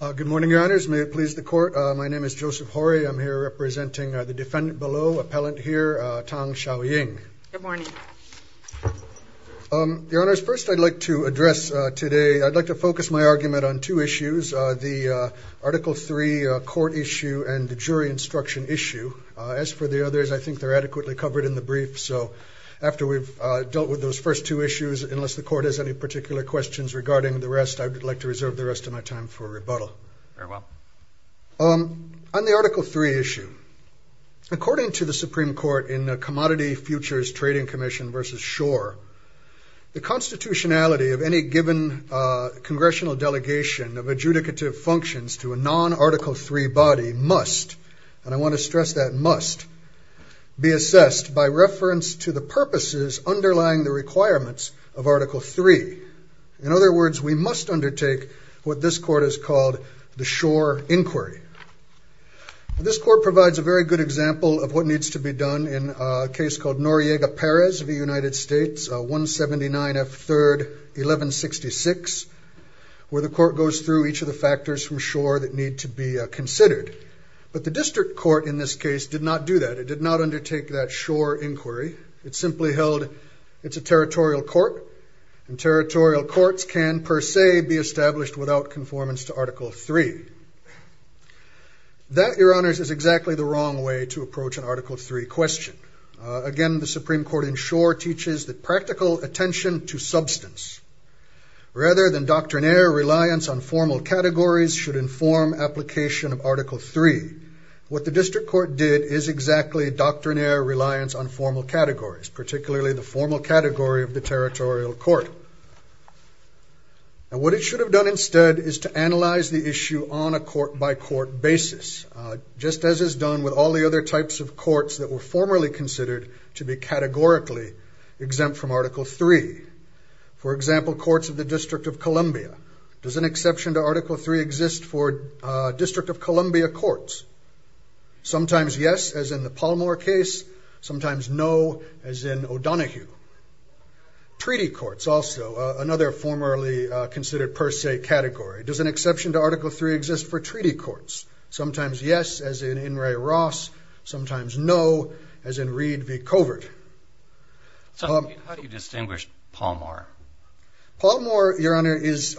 Good morning, your honors. May it please the court. My name is Joseph Horry. I'm here representing the defendant below, appellant here, Tang Xiaoying. Good morning. Your honors, first I'd like to address today, I'd like to focus my argument on two issues, the article 3 court issue and the jury instruction issue. As for the others, I think they're adequately covered in the brief, so after we've dealt with those first two issues, unless the court has any particular questions regarding the rest, I'd like to reserve the rest of my time for rebuttal. Very well. On the article 3 issue, according to the Supreme Court in the Commodity Futures Trading Commission v. Schor, the constitutionality of any given congressional delegation of adjudicative functions to a non-article 3 body must, and I want to stress that must, be assessed by reference to the In other words, we must undertake what this court has called the Schor inquiry. This court provides a very good example of what needs to be done in a case called Noriega-Perez v. United States, 179 F. 3rd, 1166, where the court goes through each of the factors from Schor that need to be considered. But the district court in this case did not do that. It did not undertake that Schor inquiry. It simply held it's a territorial court, and territorial courts can, per se, be established without conformance to Article 3. That, your honors, is exactly the wrong way to approach an Article 3 question. Again, the Supreme Court in Schor teaches that practical attention to substance, rather than doctrinaire reliance on formal categories, should inform application of Article 3. What the district court did is exactly doctrinaire reliance on formal categories, particularly the formal category of the territorial court. And what it should have done instead is to analyze the issue on a court-by-court basis, just as is done with all the other types of courts that were formerly considered to be categorically exempt from Article 3. For example, courts of the District of Columbia. Does an exception to Article 3 exist for District of Columbia? No, as in O'Donohue. Treaty courts also, another formerly considered, per se, category. Does an exception to Article 3 exist for treaty courts? Sometimes yes, as in In re Ross, sometimes no, as in Reed v. Covert. So how do you distinguish Palmore? Palmore, your honor, is...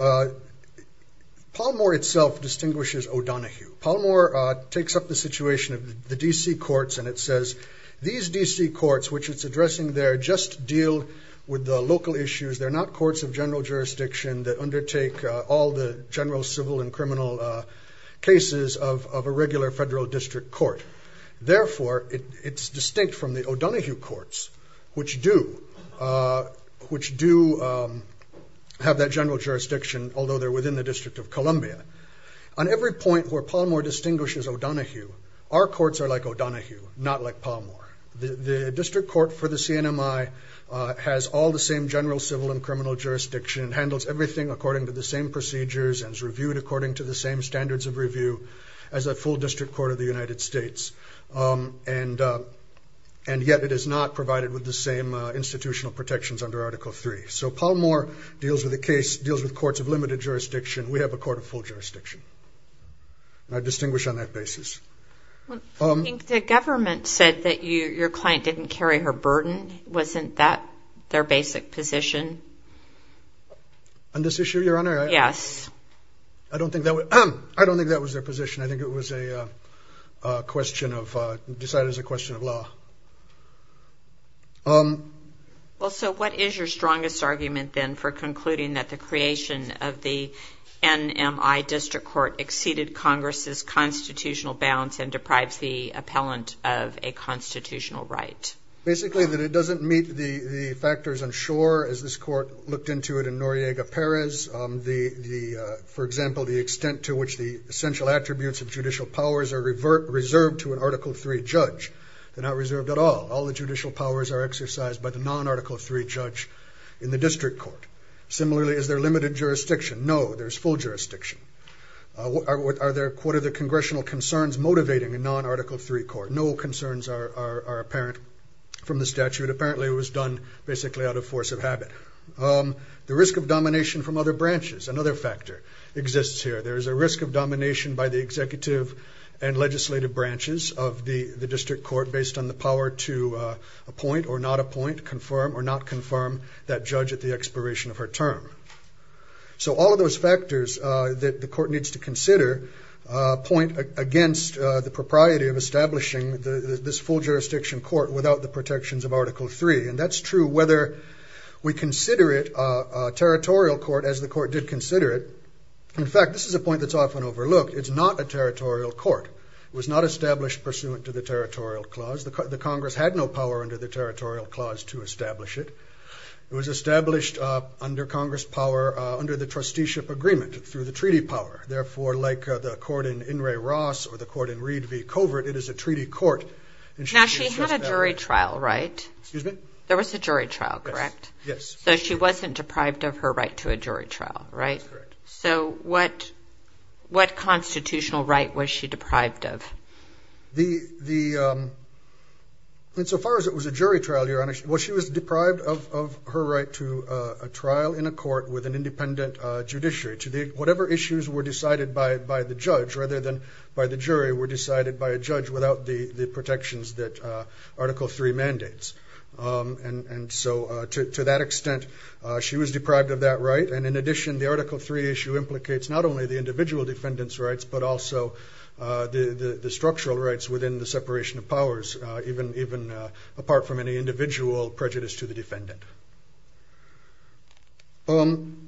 Palmore itself distinguishes O'Donohue. Palmore takes up the situation of the DC courts, and it says, these DC courts, which it's addressing there, just deal with the local issues. They're not courts of general jurisdiction that undertake all the general civil and criminal cases of a regular federal district court. Therefore, it's distinct from the O'Donohue courts, which do have that general jurisdiction, although they're within the District of Columbia. On every point where Palmore distinguishes O'Donohue, our courts are like O'Donohue, not like Palmore. The District Court for the CNMI has all the same general civil and criminal jurisdiction, handles everything according to the same procedures, and is reviewed according to the same standards of review as a full district court of the United States. And yet it is not provided with the same institutional protections under Article 3. So Palmore deals with courts of jurisdiction. I distinguish on that basis. The government said that your client didn't carry her burden. Wasn't that their basic position? On this issue, your honor? Yes. I don't think that was their position. I think it was a question of, decided as a question of law. Well, so what is your opinion on why district court exceeded Congress's constitutional bounds and deprives the appellant of a constitutional right? Basically, that it doesn't meet the factors on shore, as this court looked into it in Noriega Perez. For example, the extent to which the essential attributes of judicial powers are reserved to an Article 3 judge. They're not reserved at all. All the judicial powers are exercised by the non-Article 3 judge in the district court. Similarly, is there limited jurisdiction? No, there's full jurisdiction. Are there, quote, are there congressional concerns motivating a non-Article 3 court? No concerns are apparent from the statute. Apparently it was done basically out of force of habit. The risk of domination from other branches. Another factor exists here. There is a risk of domination by the executive and legislative branches of the the district court based on the power to appoint or not appoint, confirm or not confirm that judge at the court needs to consider a point against the propriety of establishing this full jurisdiction court without the protections of Article 3. And that's true whether we consider it a territorial court as the court did consider it. In fact, this is a point that's often overlooked. It's not a territorial court. It was not established pursuant to the territorial clause. The Congress had no power under the territorial clause to establish it. It was established under Congress power, under the trusteeship agreement, through the treaty power. Therefore, like the court in In re Ross or the court in Reed v. Covert, it is a treaty court. Now she had a jury trial, right? Excuse me? There was a jury trial, correct? Yes. So she wasn't deprived of her right to a jury trial, right? So what what constitutional right was she deprived of? Insofar as it was a court with an independent judiciary to the whatever issues were decided by by the judge rather than by the jury were decided by a judge without the the protections that Article 3 mandates. And and so to that extent she was deprived of that right. And in addition, the Article 3 issue implicates not only the individual defendants rights, but also the the structural rights within the separation of powers, even even apart from any individual prejudice to the Even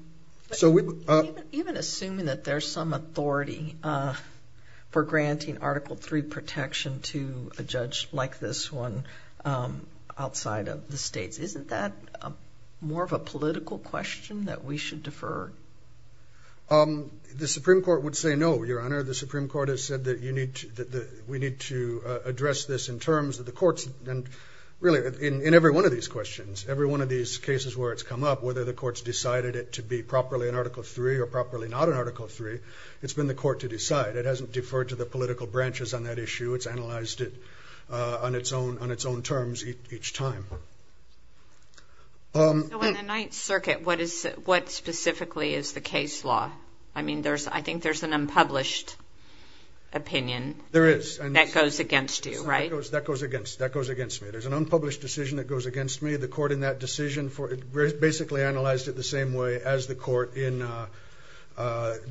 assuming that there's some authority for granting Article 3 protection to a judge like this one outside of the states, isn't that more of a political question that we should defer? The Supreme Court would say no, Your Honor. The Supreme Court has said that you need to that we need to address this in terms of the courts and really in every one of these questions, every one of these cases where it's come up, whether the courts decided it to be properly in Article 3 or properly not in Article 3, it's been the court to decide. It hasn't deferred to the political branches on that issue. It's analyzed it on its own on its own terms each time. So in the Ninth Circuit, what is what specifically is the case law? I mean there's I think there's an unpublished opinion. There is. And that goes against you, right? That goes against that goes against me. There's an unpublished decision that goes against me. The court in that decision for it basically analyzed it the same way as the court in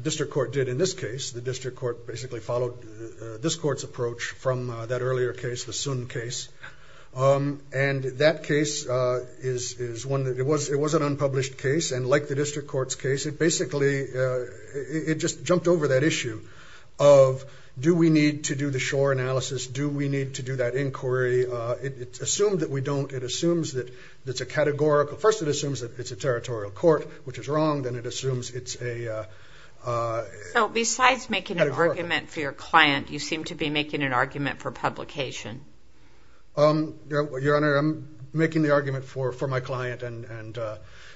district court did in this case. The district court basically followed this court's approach from that earlier case, the Sun case. And that case is is one that it was it was an unpublished case and like the district court's case it basically it just jumped over that issue of do we need to do the shore analysis? Do we need to do that inquiry? It's assumed that we don't. It assumes that it's a categorical. First it assumes that it's a territorial court, which is wrong. Then it assumes it's a... So besides making an argument for your client, you seem to be making an argument for publication. Your Honor, I'm making the argument for for my client and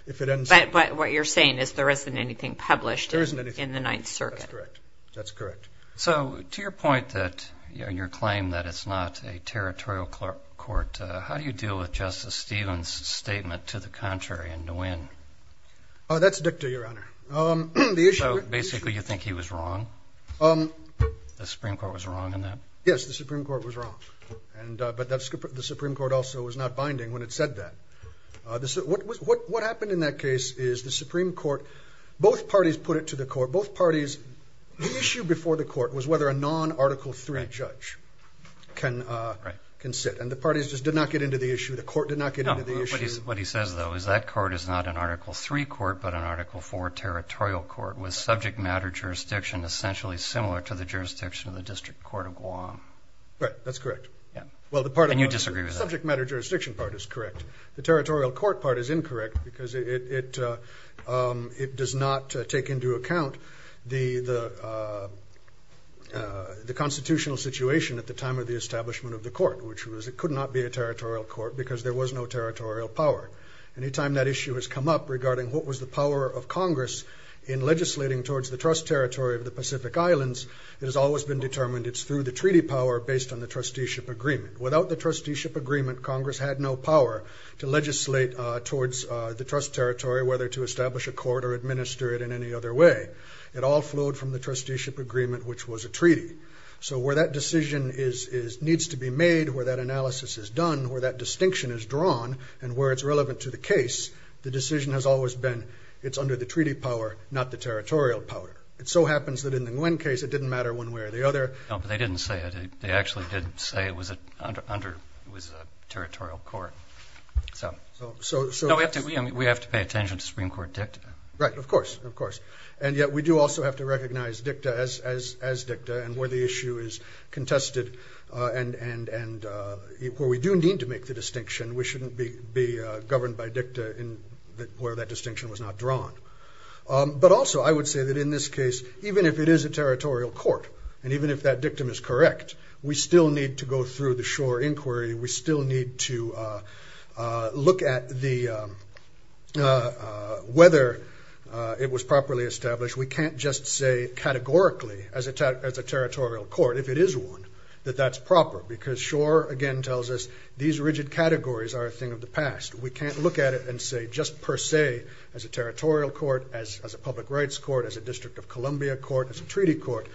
if it ends... But what you're saying is there isn't anything published in the Ninth Circuit? That's correct. That's correct. So to your point that your claim that it's not a territorial court, how do you deal with Justice Stevens' statement to the contrary and to win? That's dicta, Your Honor. So basically you think he was wrong? The Supreme Court was wrong in that? Yes, the Supreme Court was wrong. But the Supreme Court also was not binding when it said that. What happened in that case is the Supreme Court, both parties put it to the court, both parties... The issue before the court was whether a non-article 3 judge can sit. And the parties just did not get into the issue. The court did not get into the issue. What he says, though, is that court is not an article 3 court, but an article 4 territorial court with subject matter jurisdiction essentially similar to the jurisdiction of the District Court of Guam. Right, that's correct. Yeah. Well, the part of... And you disagree with that? The subject matter jurisdiction part is correct. The territorial court part is incorrect because it does not take into account the constitutional situation at the time of the establishment of the court, which was it would not be a territorial court because there was no territorial power. Any time that issue has come up regarding what was the power of Congress in legislating towards the trust territory of the Pacific Islands, it has always been determined it's through the treaty power based on the trusteeship agreement. Without the trusteeship agreement, Congress had no power to legislate towards the trust territory, whether to establish a court or administer it in any other way. It all flowed from the trusteeship agreement, which was a treaty. So where that decision needs to be made, where that analysis is done, where that distinction is drawn, and where it's relevant to the case, the decision has always been it's under the treaty power, not the territorial power. It so happens that in the Nguyen case it didn't matter one way or the other. No, but they didn't say it. They actually didn't say it was a territorial court. So we have to pay attention to Supreme Court dicta. Right, of course. And yet we do also have to recognize dicta as where we do need to make the distinction. We shouldn't be governed by dicta where that distinction was not drawn. But also I would say that in this case, even if it is a territorial court, and even if that dictum is correct, we still need to go through the shore inquiry. We still need to look at whether it was properly established. We can't just say categorically as a territorial court, if it is one, that that's proper. Because shore, again, tells us these rigid categories are a thing of the past. We can't look at it and say just per se, as a territorial court, as a public rights court, as a District of Columbia court, as a treaty court,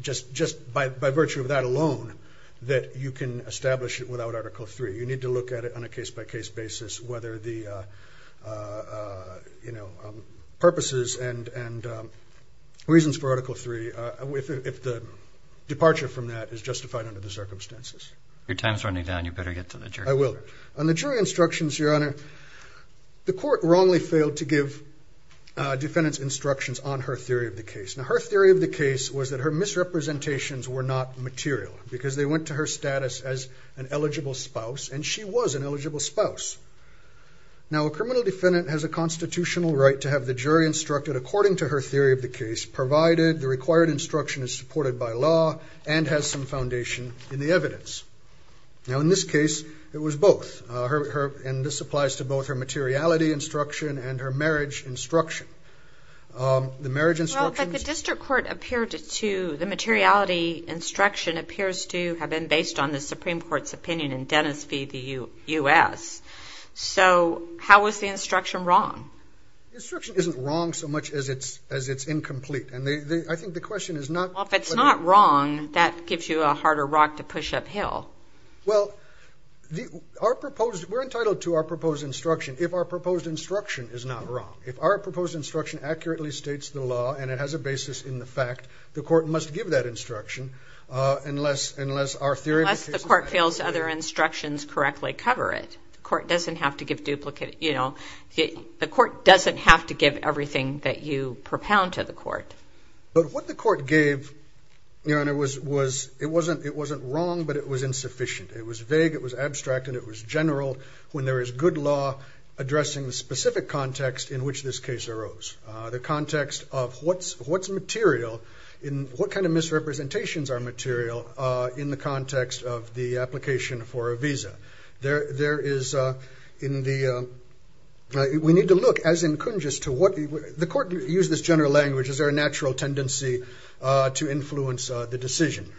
just by virtue of that alone, that you can establish it without Article III. You need to look at it on a case by case basis, whether the purposes and reasons for Article III, if the departure from that is justified under the Constitution. I will. On the jury instructions, Your Honor, the court wrongly failed to give defendants instructions on her theory of the case. Now, her theory of the case was that her misrepresentations were not material, because they went to her status as an eligible spouse, and she was an eligible spouse. Now, a criminal defendant has a constitutional right to have the jury instructed according to her theory of the case, provided the required instruction is supported by law, and has some foundation in the evidence. Now, in this case, it was both. And this applies to both her materiality instruction and her marriage instruction. The marriage instruction... Well, but the District Court appeared to, the materiality instruction appears to have been based on the Supreme Court's opinion in Dennis v. the U.S. So, how is the instruction wrong? Instruction isn't wrong so much as it's incomplete. And I think the question is not... Well, if it's not wrong, that gives you a harder rock to push uphill. Well, our proposed, we're entitled to our proposed instruction if our proposed instruction is not wrong. If our proposed instruction accurately states the law, and it has a basis in the fact, the court must give that instruction unless our theory of the case is... Unless the court feels other instructions correctly cover it. The court doesn't have to give duplicate, you know, the court doesn't have to give everything that you propound to the court. But what the court gave, you know, and it was, it wasn't wrong, but it was insufficient. It was vague, it was abstract, and it was general when there is good law addressing the specific context in which this case arose. The context of what's material, in what kind of misrepresentations are material in the context of the application for a visa. There is in the, we need to look as in Kunjus to what, the court used this general language, is there a natural tendency to influence the decision.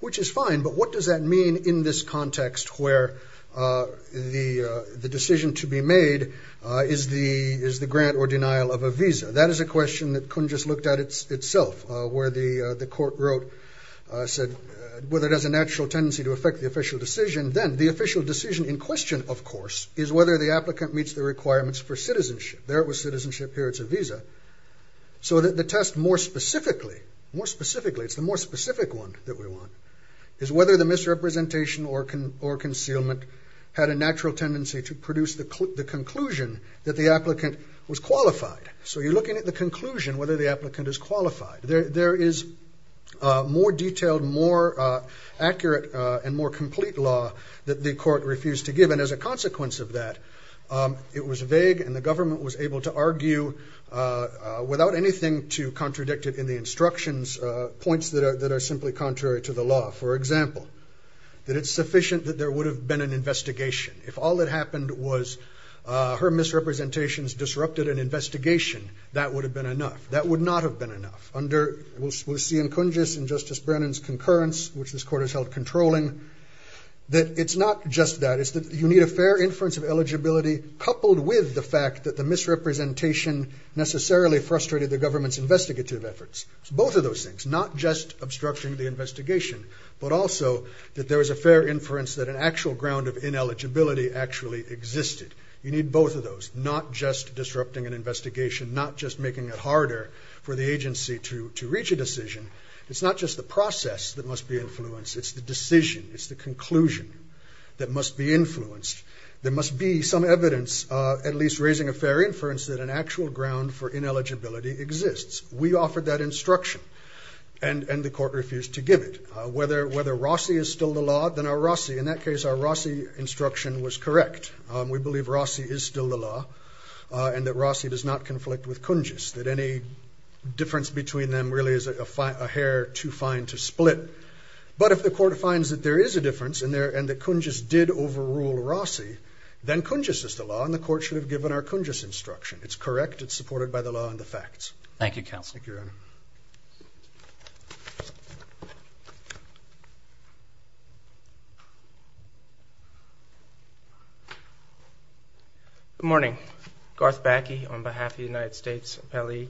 Which is fine, but what does that mean in this context where the decision to be made is the grant or denial of a visa. That is a question that Kunjus looked at itself, where the court wrote, said, whether it has a natural tendency to affect the official decision. Then the official decision in question, of course, is whether the applicant meets the requirements for citizenship. There it was citizenship, here it's a visa. So that the test more specifically, more specifically, it's the more specific one that we want, is whether the misrepresentation or concealment had a natural tendency to produce the conclusion that the applicant was qualified. So you're looking at the conclusion, whether the applicant is qualified. There is more detailed, more accurate, and more complete law that the court refused to give. And as a consequence of that, it was able to argue, without anything to contradict it in the instructions, points that are simply contrary to the law. For example, that it's sufficient that there would have been an investigation. If all that happened was her misrepresentations disrupted an investigation, that would have been enough. That would not have been enough. Under, we'll see in Kunjus and Justice Brennan's concurrence, which this court has held controlling, that it's not just that. It's that you need a fair inference of eligibility, coupled with the fact that the misrepresentation necessarily frustrated the government's investigative efforts. Both of those things. Not just obstructing the investigation, but also that there was a fair inference that an actual ground of ineligibility actually existed. You need both of those. Not just disrupting an investigation. Not just making it harder for the agency to reach a decision. It's not just the process that must be influenced. It's the decision. It's the conclusion that must be influenced. There must be some evidence, at least raising a fair inference, that an actual ground for ineligibility exists. We offered that instruction, and the court refused to give it. Whether Rossi is still the law, then our Rossi, in that case, our Rossi instruction was correct. We believe Rossi is still the law, and that Rossi does not conflict with Kunjus. That any difference between them really is a hair too fine to split. But if the court finds that there is a difference, and that Kunjus did overrule Rossi, then Kunjus is the law, and the court should have given our Kunjus instruction. It's correct. It's supported by the law and the facts. Thank you, counsel. Good morning. Garth Backe, on behalf of the United States Appellee.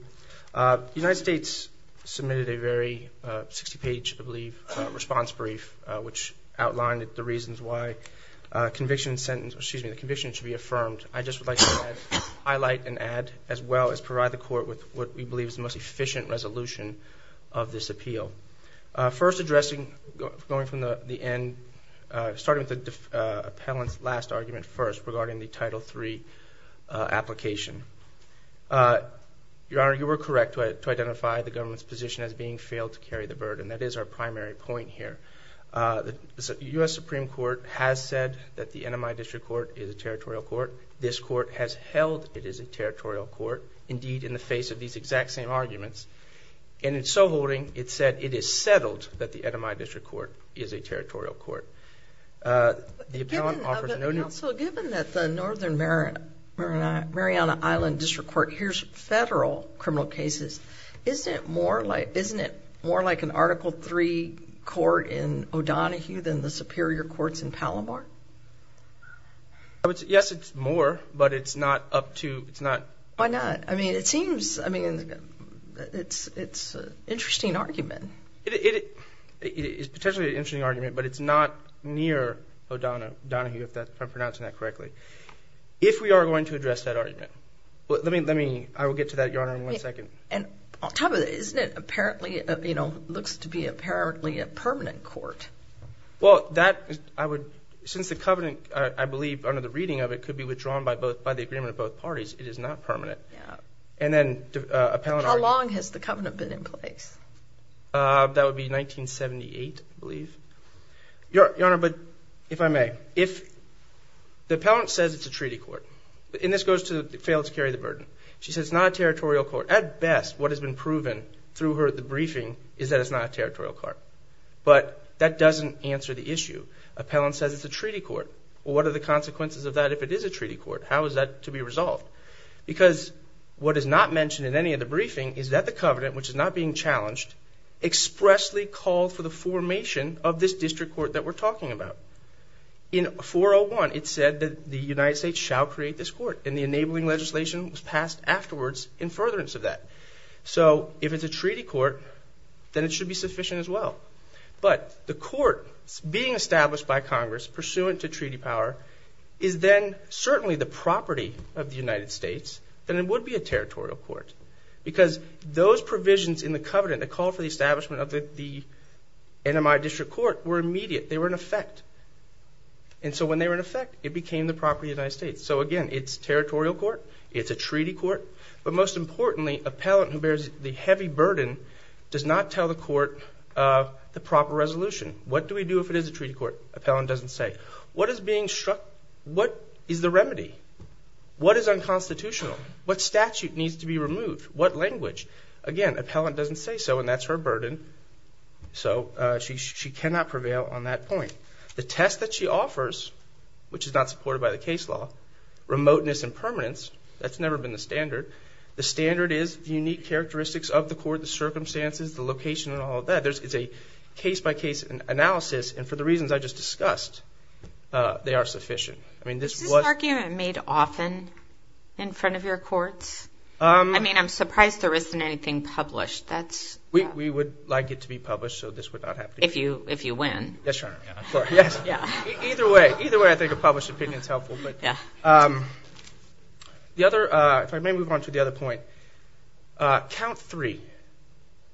The United States submitted a very 60-page, I believe, response brief, which outlined the reasons why the conviction should be affirmed. I just would like to highlight and add, as well as provide the court with what we believe is the most efficient resolution of this appeal. First addressing, going from the end, starting with the appellant's last argument first, regarding the Title III application. Your Honor, you were correct to identify the government's position as being failed to carry the burden. That is our primary point here. The U.S. Supreme Court has said that the NMI District Court is a territorial court. This court has held it is a territorial court, indeed, in the face of these exact same arguments. And in so holding, it said it is settled that the NMI District Court is a territorial court. The appellant offers an opinion. Counsel, given that the Northern Mariana Island District Court hears federal criminal cases, isn't it more like an Article III court in O'Donohue than the Superior Courts in Palomar? Yes, it's more, but it's not up to, it's not. Why not? I mean, it seems, I mean, it's an interesting argument. It is potentially an interesting argument, but it's not near O'Donohue, if I'm pronouncing that correctly. If we are going to address that argument, let me, I will get to that, Your Honor, in one second. And on top of it, isn't it apparently, you know, looks to be apparently a permanent court. Well, that, I would, since the Covenant, I believe, under the reading of it, could be withdrawn by both, by the agreement of both parties, it is not permanent. Yeah. And then, appellant... How long has the Covenant been in place? That would be 1978, I believe. Your Honor, but if I may, if the appellant says it's a treaty court, and this goes to fail to carry the burden, she says it's not a territorial court. At best, what has been proven through her, the briefing, is that it's not a territorial court. But that doesn't answer the issue. Appellant says it's a treaty court. Well, what are the consequences of that if it is a treaty court? How is that to be resolved? Because what is not mentioned in any of the briefing is that the Covenant, which is not being challenged, expressly called for the formation of this district court that we're talking about. In 401, it said that the United States shall create this district court, and it was passed afterwards in furtherance of that. So, if it's a treaty court, then it should be sufficient as well. But the court being established by Congress, pursuant to treaty power, is then certainly the property of the United States, then it would be a territorial court. Because those provisions in the Covenant, the call for the establishment of the NMI district court, were immediate. They were in effect. And so when they were in effect, it became the property of the United States. So again, it's territorial court. It's a treaty court. But most importantly, appellant who bears the heavy burden does not tell the court the proper resolution. What do we do if it is a treaty court? Appellant doesn't say. What is being struck? What is the remedy? What is unconstitutional? What statute needs to be removed? What language? Again, appellant doesn't say so, and that's her burden. So, she cannot prevail on that point. The test that she offers, which is not supported by the case law, remoteness and permanence, that's never been the standard. The standard is the unique characteristics of the court, the circumstances, the location, and all of that. It's a case-by-case analysis, and for the reasons I just discussed, they are sufficient. I mean, this was... Is this argument made often in front of your courts? I mean, I'm surprised there isn't anything published. We would like it to be published, so this would not happen. If you win. Yes, Your Honor. Either way, I think a published opinion is helpful. The other... If I may move on to the other point. Count 3.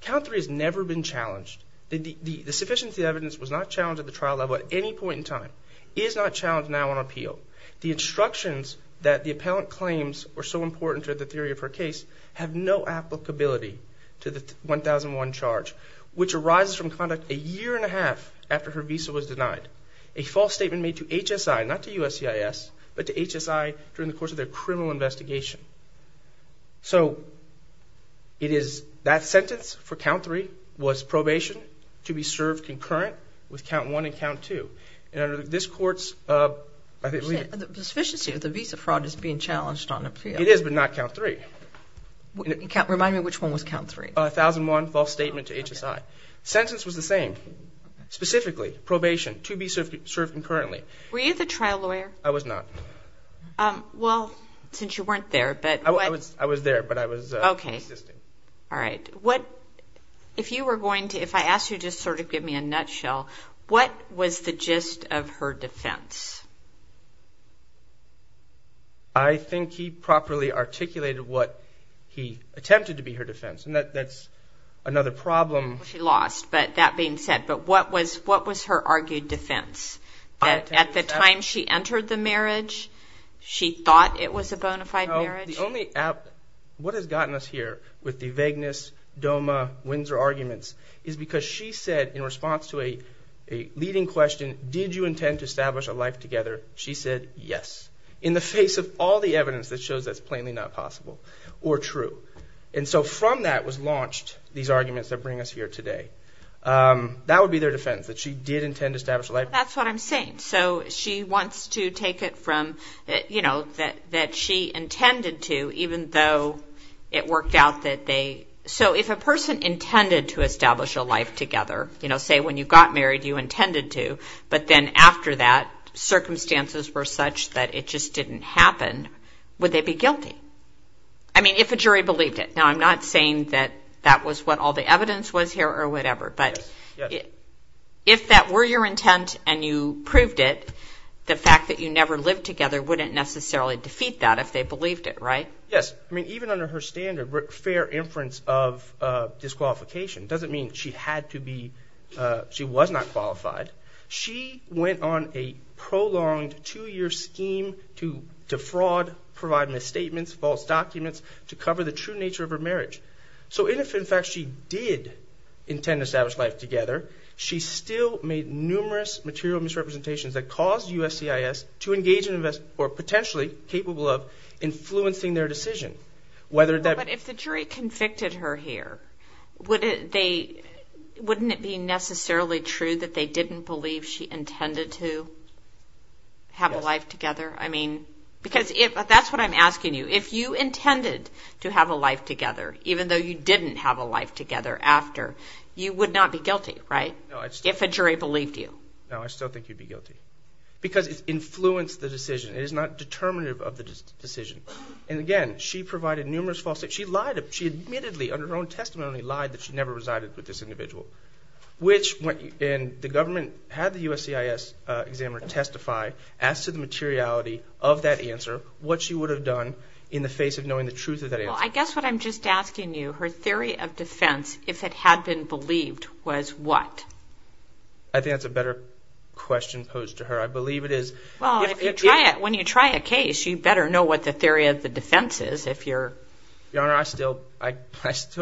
Count 3 has never been challenged. The sufficiency of the evidence was not challenged at the trial level at any point in time. It is not challenged now on appeal. The instructions that the appellant claims were so important to the theory of her case have no applicability to the 1001 charge, which arises from conduct a year and a half after her visa was denied. A false statement made to HSI, not to USCIS, but to HSI during the course of their criminal investigation. So, it is... That sentence for count 3 was probation to be served concurrent with count 1 and count 2. And under this court's... The sufficiency of the visa fraud is being challenged on appeal. It is, but not count 3. Remind me which one was count 3. 1001, false statement to HSI. Sentence was the same. Specifically, probation to be served concurrently. Were you the trial lawyer? I was not. Well, since you weren't there, but... I was there, but I was... Okay. All right. What... If you were going to... If I asked you to sort of give me a nutshell, what was the gist of her defense? I think he properly articulated what he attempted to be her defense, and that's another problem. She lost, but that being said, but what was... What was her argued defense? At the time she entered the marriage, she thought it was a bona fide marriage? The only... What has gotten us here with the vagueness, DOMA, Windsor arguments, is because she said, in response to a leading question, did you intend to establish a life together? She said, yes. In the face of all the evidence that shows that's plainly not possible or true. And so from that was launched these arguments that bring us here today. That would be their defense, that she did intend to establish a life... That's what I'm saying. So she wants to take it from, you know, that she intended to, even though it worked out that they... So if a person intended to establish a life together, you know, say when you got married you intended to, but then after that circumstances were such that it just didn't happen, would they be guilty? I mean, if a jury believed it. Now, I'm not saying that that was what all the evidence was here or whatever, but if that were your intent and you proved it, the fact that you never lived together wouldn't necessarily defeat that if they believed it, right? Yes. I mean, even under her standard, fair inference of disqualification doesn't mean she had to be... She was not qualified. She went on a prolonged two-year scheme to defraud, provide misstatements, false documents, to cover the true nature of her marriage. So even if, in fact, she did intend to establish life together, she still made numerous material misrepresentations that caused USCIS to engage in or potentially capable of influencing their decision. Whether that... But if the jury convicted her here, wouldn't it be necessarily true that they didn't believe she intended to have a life together? I mean, because if... That's what I'm asking you. If you intended to have a life together, even though you didn't have a life together after, you would not be guilty, right? If a jury believed you. No, I still think you'd be guilty because it's influenced the decision. It is not determinative of the decision. And again, she provided numerous false... She lied. She admittedly, under her own testimony, lied that she never resided with this individual, which... And the government had the USCIS examiner testify, asked to the materiality of that answer, what she would have done in the face of knowing the truth of that answer. Well, I guess what I'm just asking you, her theory of defense, if it had been believed, was what? I think that's a better question posed to her. I believe it is... Well, if you try it... When you try a case, you better know what the answer is. Although, I'm still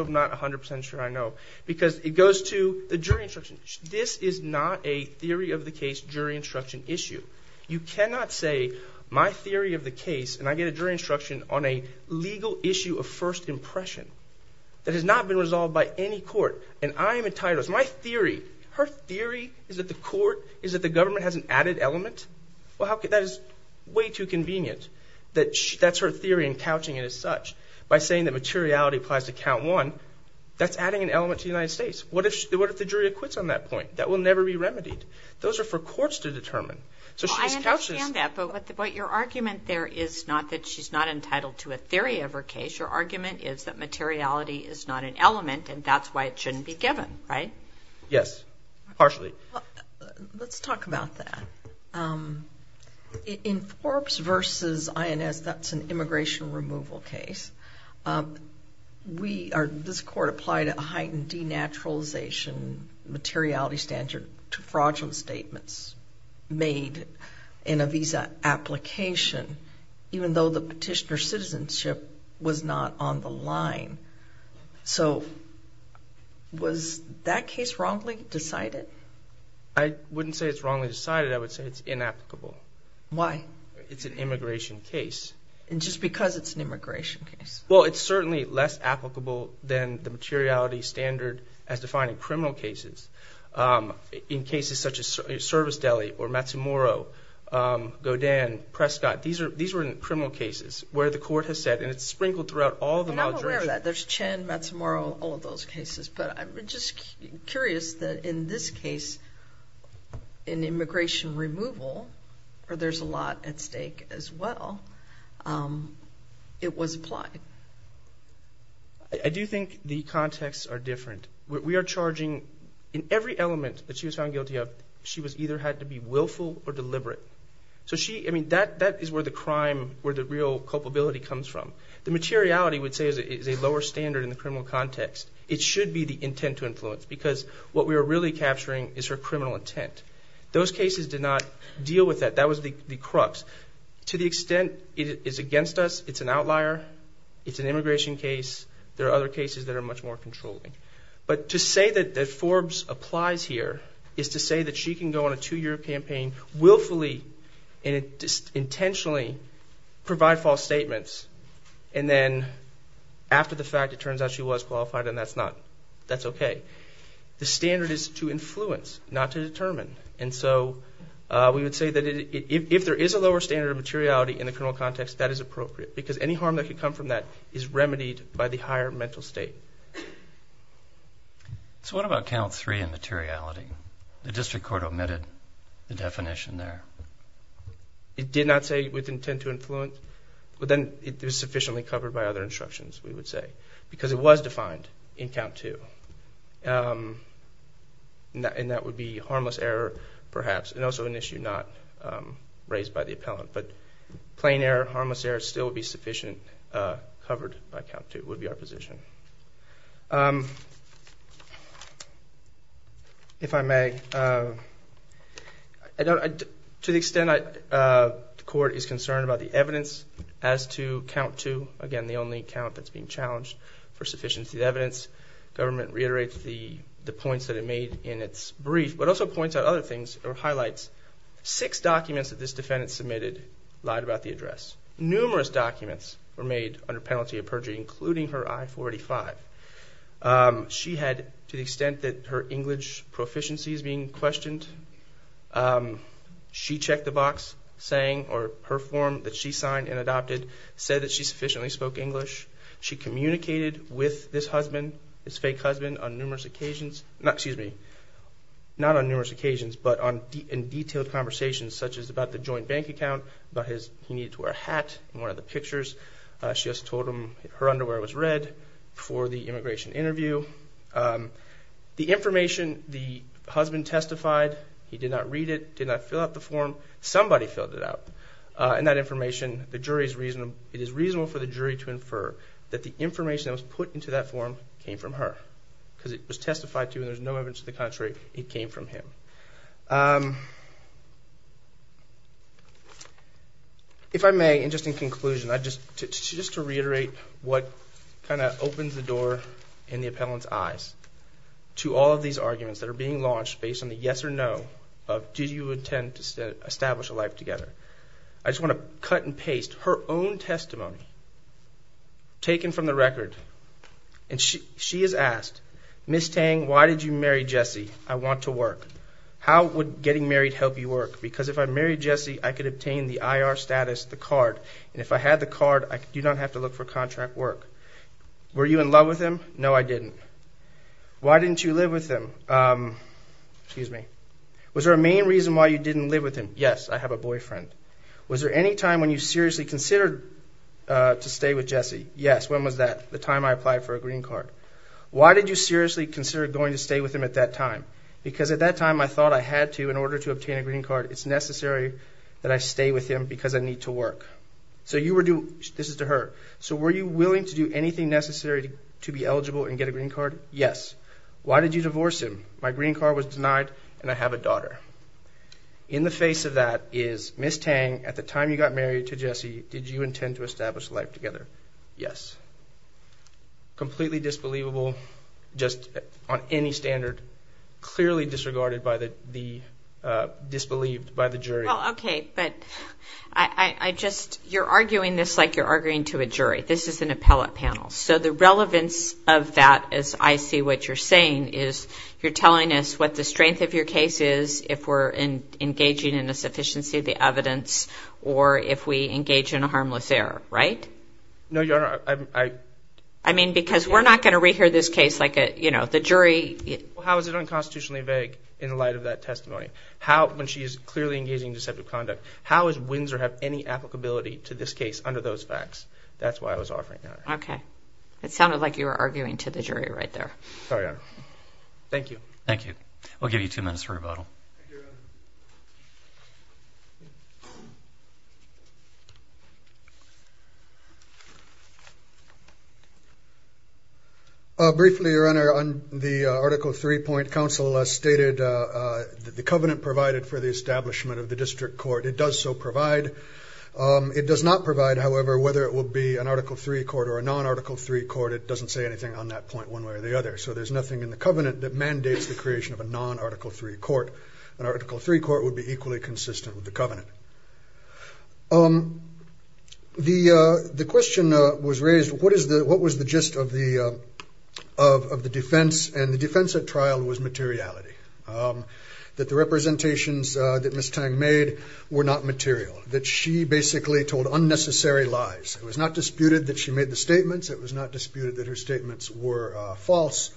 not 100% sure I know. Because it goes to the jury instruction. This is not a theory of the case, jury instruction issue. You cannot say, my theory of the case, and I get a jury instruction on a legal issue of first impression, that has not been resolved by any court, and I am entitled... My theory... Her theory is that the court... Is that the government has an added element? Well, how could... That is way too convenient. That's her theory and such. By saying that materiality applies to count one, that's adding an element to the United States. What if the jury acquits on that point? That will never be remedied. Those are for courts to determine. So she's... I understand that, but what your argument there is not that she's not entitled to a theory of her case. Your argument is that materiality is not an element, and that's why it shouldn't be given, right? Yes, partially. Let's talk about that. In Forbes versus INS, that's an immigration removal case. This court applied a heightened denaturalization materiality standard to fraudulent statements made in a visa application, even though the petitioner's citizenship was not on the line. So was that case wrongly decided? I wouldn't say it's wrongly decided. I would say it's inapplicable. Why? It's an immigration case. And just because it's an immigration case? Well, it's certainly less applicable than the materiality standard as defined in criminal cases. In cases such as Service Deli or Matsumoro, Godin, Prescott, these were criminal cases where the court has said, and it's sprinkled throughout all the... And I'm aware of that. There's Chen, Matsumoro, all of those cases. But I'm just curious that in this case, in immigration removal, where there's a lot at stake as well, it was applied. I do think the contexts are different. We are charging... In every element that she was found guilty of, she either had to be willful or deliberate. So she... That is where the crime, where the real culpability comes from. The materiality, we'd say, is a lower standard in the criminal context. It should be the intent to influence, because what we are really capturing is her criminal intent. Those cases did not deal with that. That was the crux. To the extent it is against us, it's an outlier. It's an immigration case. There are other cases that are much more controlling. But to say that Forbes applies here is to say that she can go on a two year campaign willfully and intentionally provide false statements. And then after the fact, it turns out she was qualified and that's okay. The standard is to influence, not to determine. And so we would say that if there is a lower standard of materiality in the criminal context, that is appropriate. Because any harm that could come from that is remedied by the higher mental state. So what about count three in materiality? The district court omitted the definition there. It did not say with intent to influence, but then it was sufficiently covered by other instructions, we would say. Because it was defined in count two. And that would be harmless error, perhaps, and also an issue not raised by the appellant. But plain error, harmless error, still would be sufficient, covered by count two, would be our position. If I may, to the extent the court is concerned about the evidence as to count two, again, the only count that's being sufficiently evidenced, government reiterates the points that it made in its brief, but also points out other things or highlights. Six documents that this defendant submitted lied about the address. Numerous documents were made under penalty of perjury, including her I-45. She had, to the extent that her English proficiency is being questioned, she checked the box saying, or her form that she signed and adopted said that she met with this husband, his fake husband, on numerous occasions. Not on numerous occasions, but in detailed conversations, such as about the joint bank account, about his, he needed to wear a hat in one of the pictures. She also told him her underwear was red for the immigration interview. The information the husband testified, he did not read it, did not fill out the form. Somebody filled it out. And that information, the jury's reasonable, it is reasonable for the jury to infer that the form came from her. Because it was testified to and there's no evidence to the contrary, it came from him. If I may, and just in conclusion, just to reiterate what kind of opens the door in the appellant's eyes to all of these arguments that are being launched based on the yes or no of do you intend to establish a life together. I just want to cut and paste her own story. And she has asked, Ms. Tang, why did you marry Jesse? I want to work. How would getting married help you work? Because if I married Jesse, I could obtain the IR status, the card. And if I had the card, I do not have to look for contract work. Were you in love with him? No, I didn't. Why didn't you live with him? Excuse me. Was there a main reason why you didn't live with him? Yes, I have a boyfriend. Was there any time when you seriously considered to stay with Jesse? Yes, when was that? The time I applied for a green card. Why did you seriously consider going to stay with him at that time? Because at that time, I thought I had to in order to obtain a green card. It's necessary that I stay with him because I need to work. So you were doing, this is to her, so were you willing to do anything necessary to be eligible and get a green card? Yes. Why did you divorce him? My green card was denied and I have a daughter. In the face of that is Ms. Tang, at the time you got married to Jesse, did you completely disbelievable, just on any standard, clearly disregarded by the disbelieved by the jury? Okay, but I just, you're arguing this like you're arguing to a jury. This is an appellate panel. So the relevance of that, as I see what you're saying, is you're telling us what the strength of your case is if we're engaging in a sufficiency of the evidence or if we because we're not going to rehear this case like the jury. How is it unconstitutionally vague in light of that testimony? How, when she is clearly engaging in deceptive conduct, how does Windsor have any applicability to this case under those facts? That's why I was offering that. Okay. It sounded like you were arguing to the jury right there. Thank you. Thank you. We'll give you two minutes for rebuttal. Briefly, Your Honor, on the Article Three point, counsel stated that the covenant provided for the establishment of the district court. It does so provide. It does not provide, however, whether it will be an Article Three court or a non Article Three court. It doesn't say anything on that point one way or the other. So there's nothing in the covenant that mandates the creation of a non Article Three court. An Article Three court would be equally consistent with the covenant. Um, the question was raised. What is the what was the gist of the of the defense? And the defense at trial was materiality. Um, that the representations that Miss Tang made were not material, that she basically told unnecessary lies. It was not disputed that she made the statements. It was not disputed that her statements were false.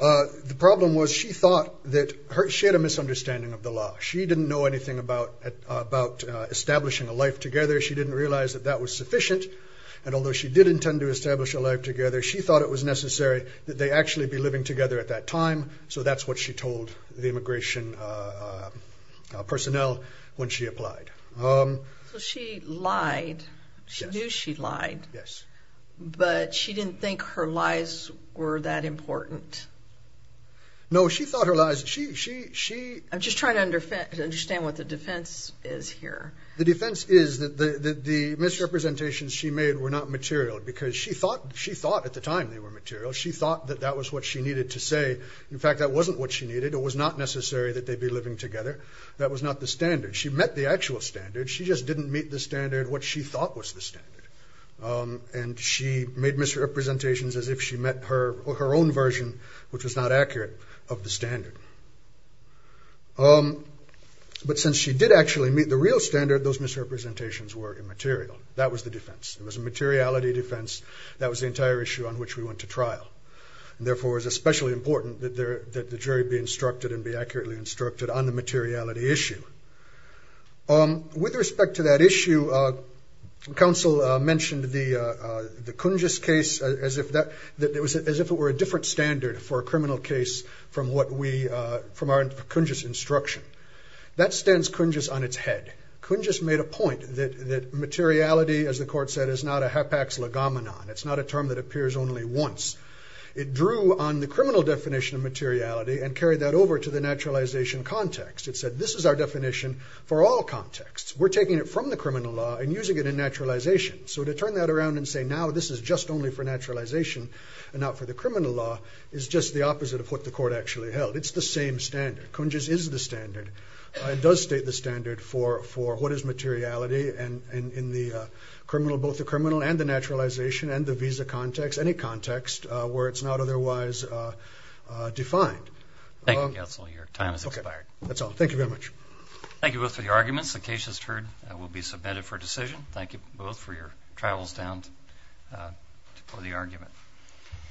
The problem was she thought that she had a misunderstanding of the law. She didn't know anything about about establishing a life together. She didn't realize that that was sufficient. And although she did intend to establish a life together, she thought it was necessary that they actually be living together at that time. So that's what she told the immigration, uh, personnel when she applied. Um, she lied. She knew she lied. Yes, but she didn't think her lies were that important. No, she thought her lies. She I'm just trying to understand what the defense is here. The defense is that the misrepresentations she made were not material because she thought she thought at the time they were material. She thought that that was what she needed to say. In fact, that wasn't what she needed. It was not necessary that they'd be living together. That was not the standard. She met the actual standard. She just didn't meet the standard. What she thought was the standard. Um, and she made misrepresentations as if she met her her own version, which was not accurate of the standard. Um, but since she did actually meet the real standard, those misrepresentations were immaterial. That was the defense. It was a materiality defense. That was the entire issue on which we went to trial. Therefore, it's especially important that the jury be instructed and be accurately instructed on the materiality issue. Um, with respect to that issue, uh, counsel mentioned the, uh, the Kunji's case as if that it was as if it were a different standard for a from what we, uh, from our Kunji's instruction. That stands Kunji's on its head. Kunji's made a point that, that materiality, as the court said, is not a hapax legomenon. It's not a term that appears only once. It drew on the criminal definition of materiality and carried that over to the naturalization context. It said, this is our definition for all contexts. We're taking it from the criminal law and using it in naturalization. So to turn that around and say, now this is just only for naturalization and not for the criminal law is just the opposite of what the court actually held. It's the same standard. Kunji's is the standard. It does state the standard for, for what is materiality and in the criminal, both the criminal and the naturalization and the visa context, any context where it's not otherwise, uh, uh, defined. Thank you, counsel. Your time has expired. That's all. Thank you very much. Thank you both for the arguments. The case just heard will be submitted for decision. Thank you both for your travels down, uh, for the argument.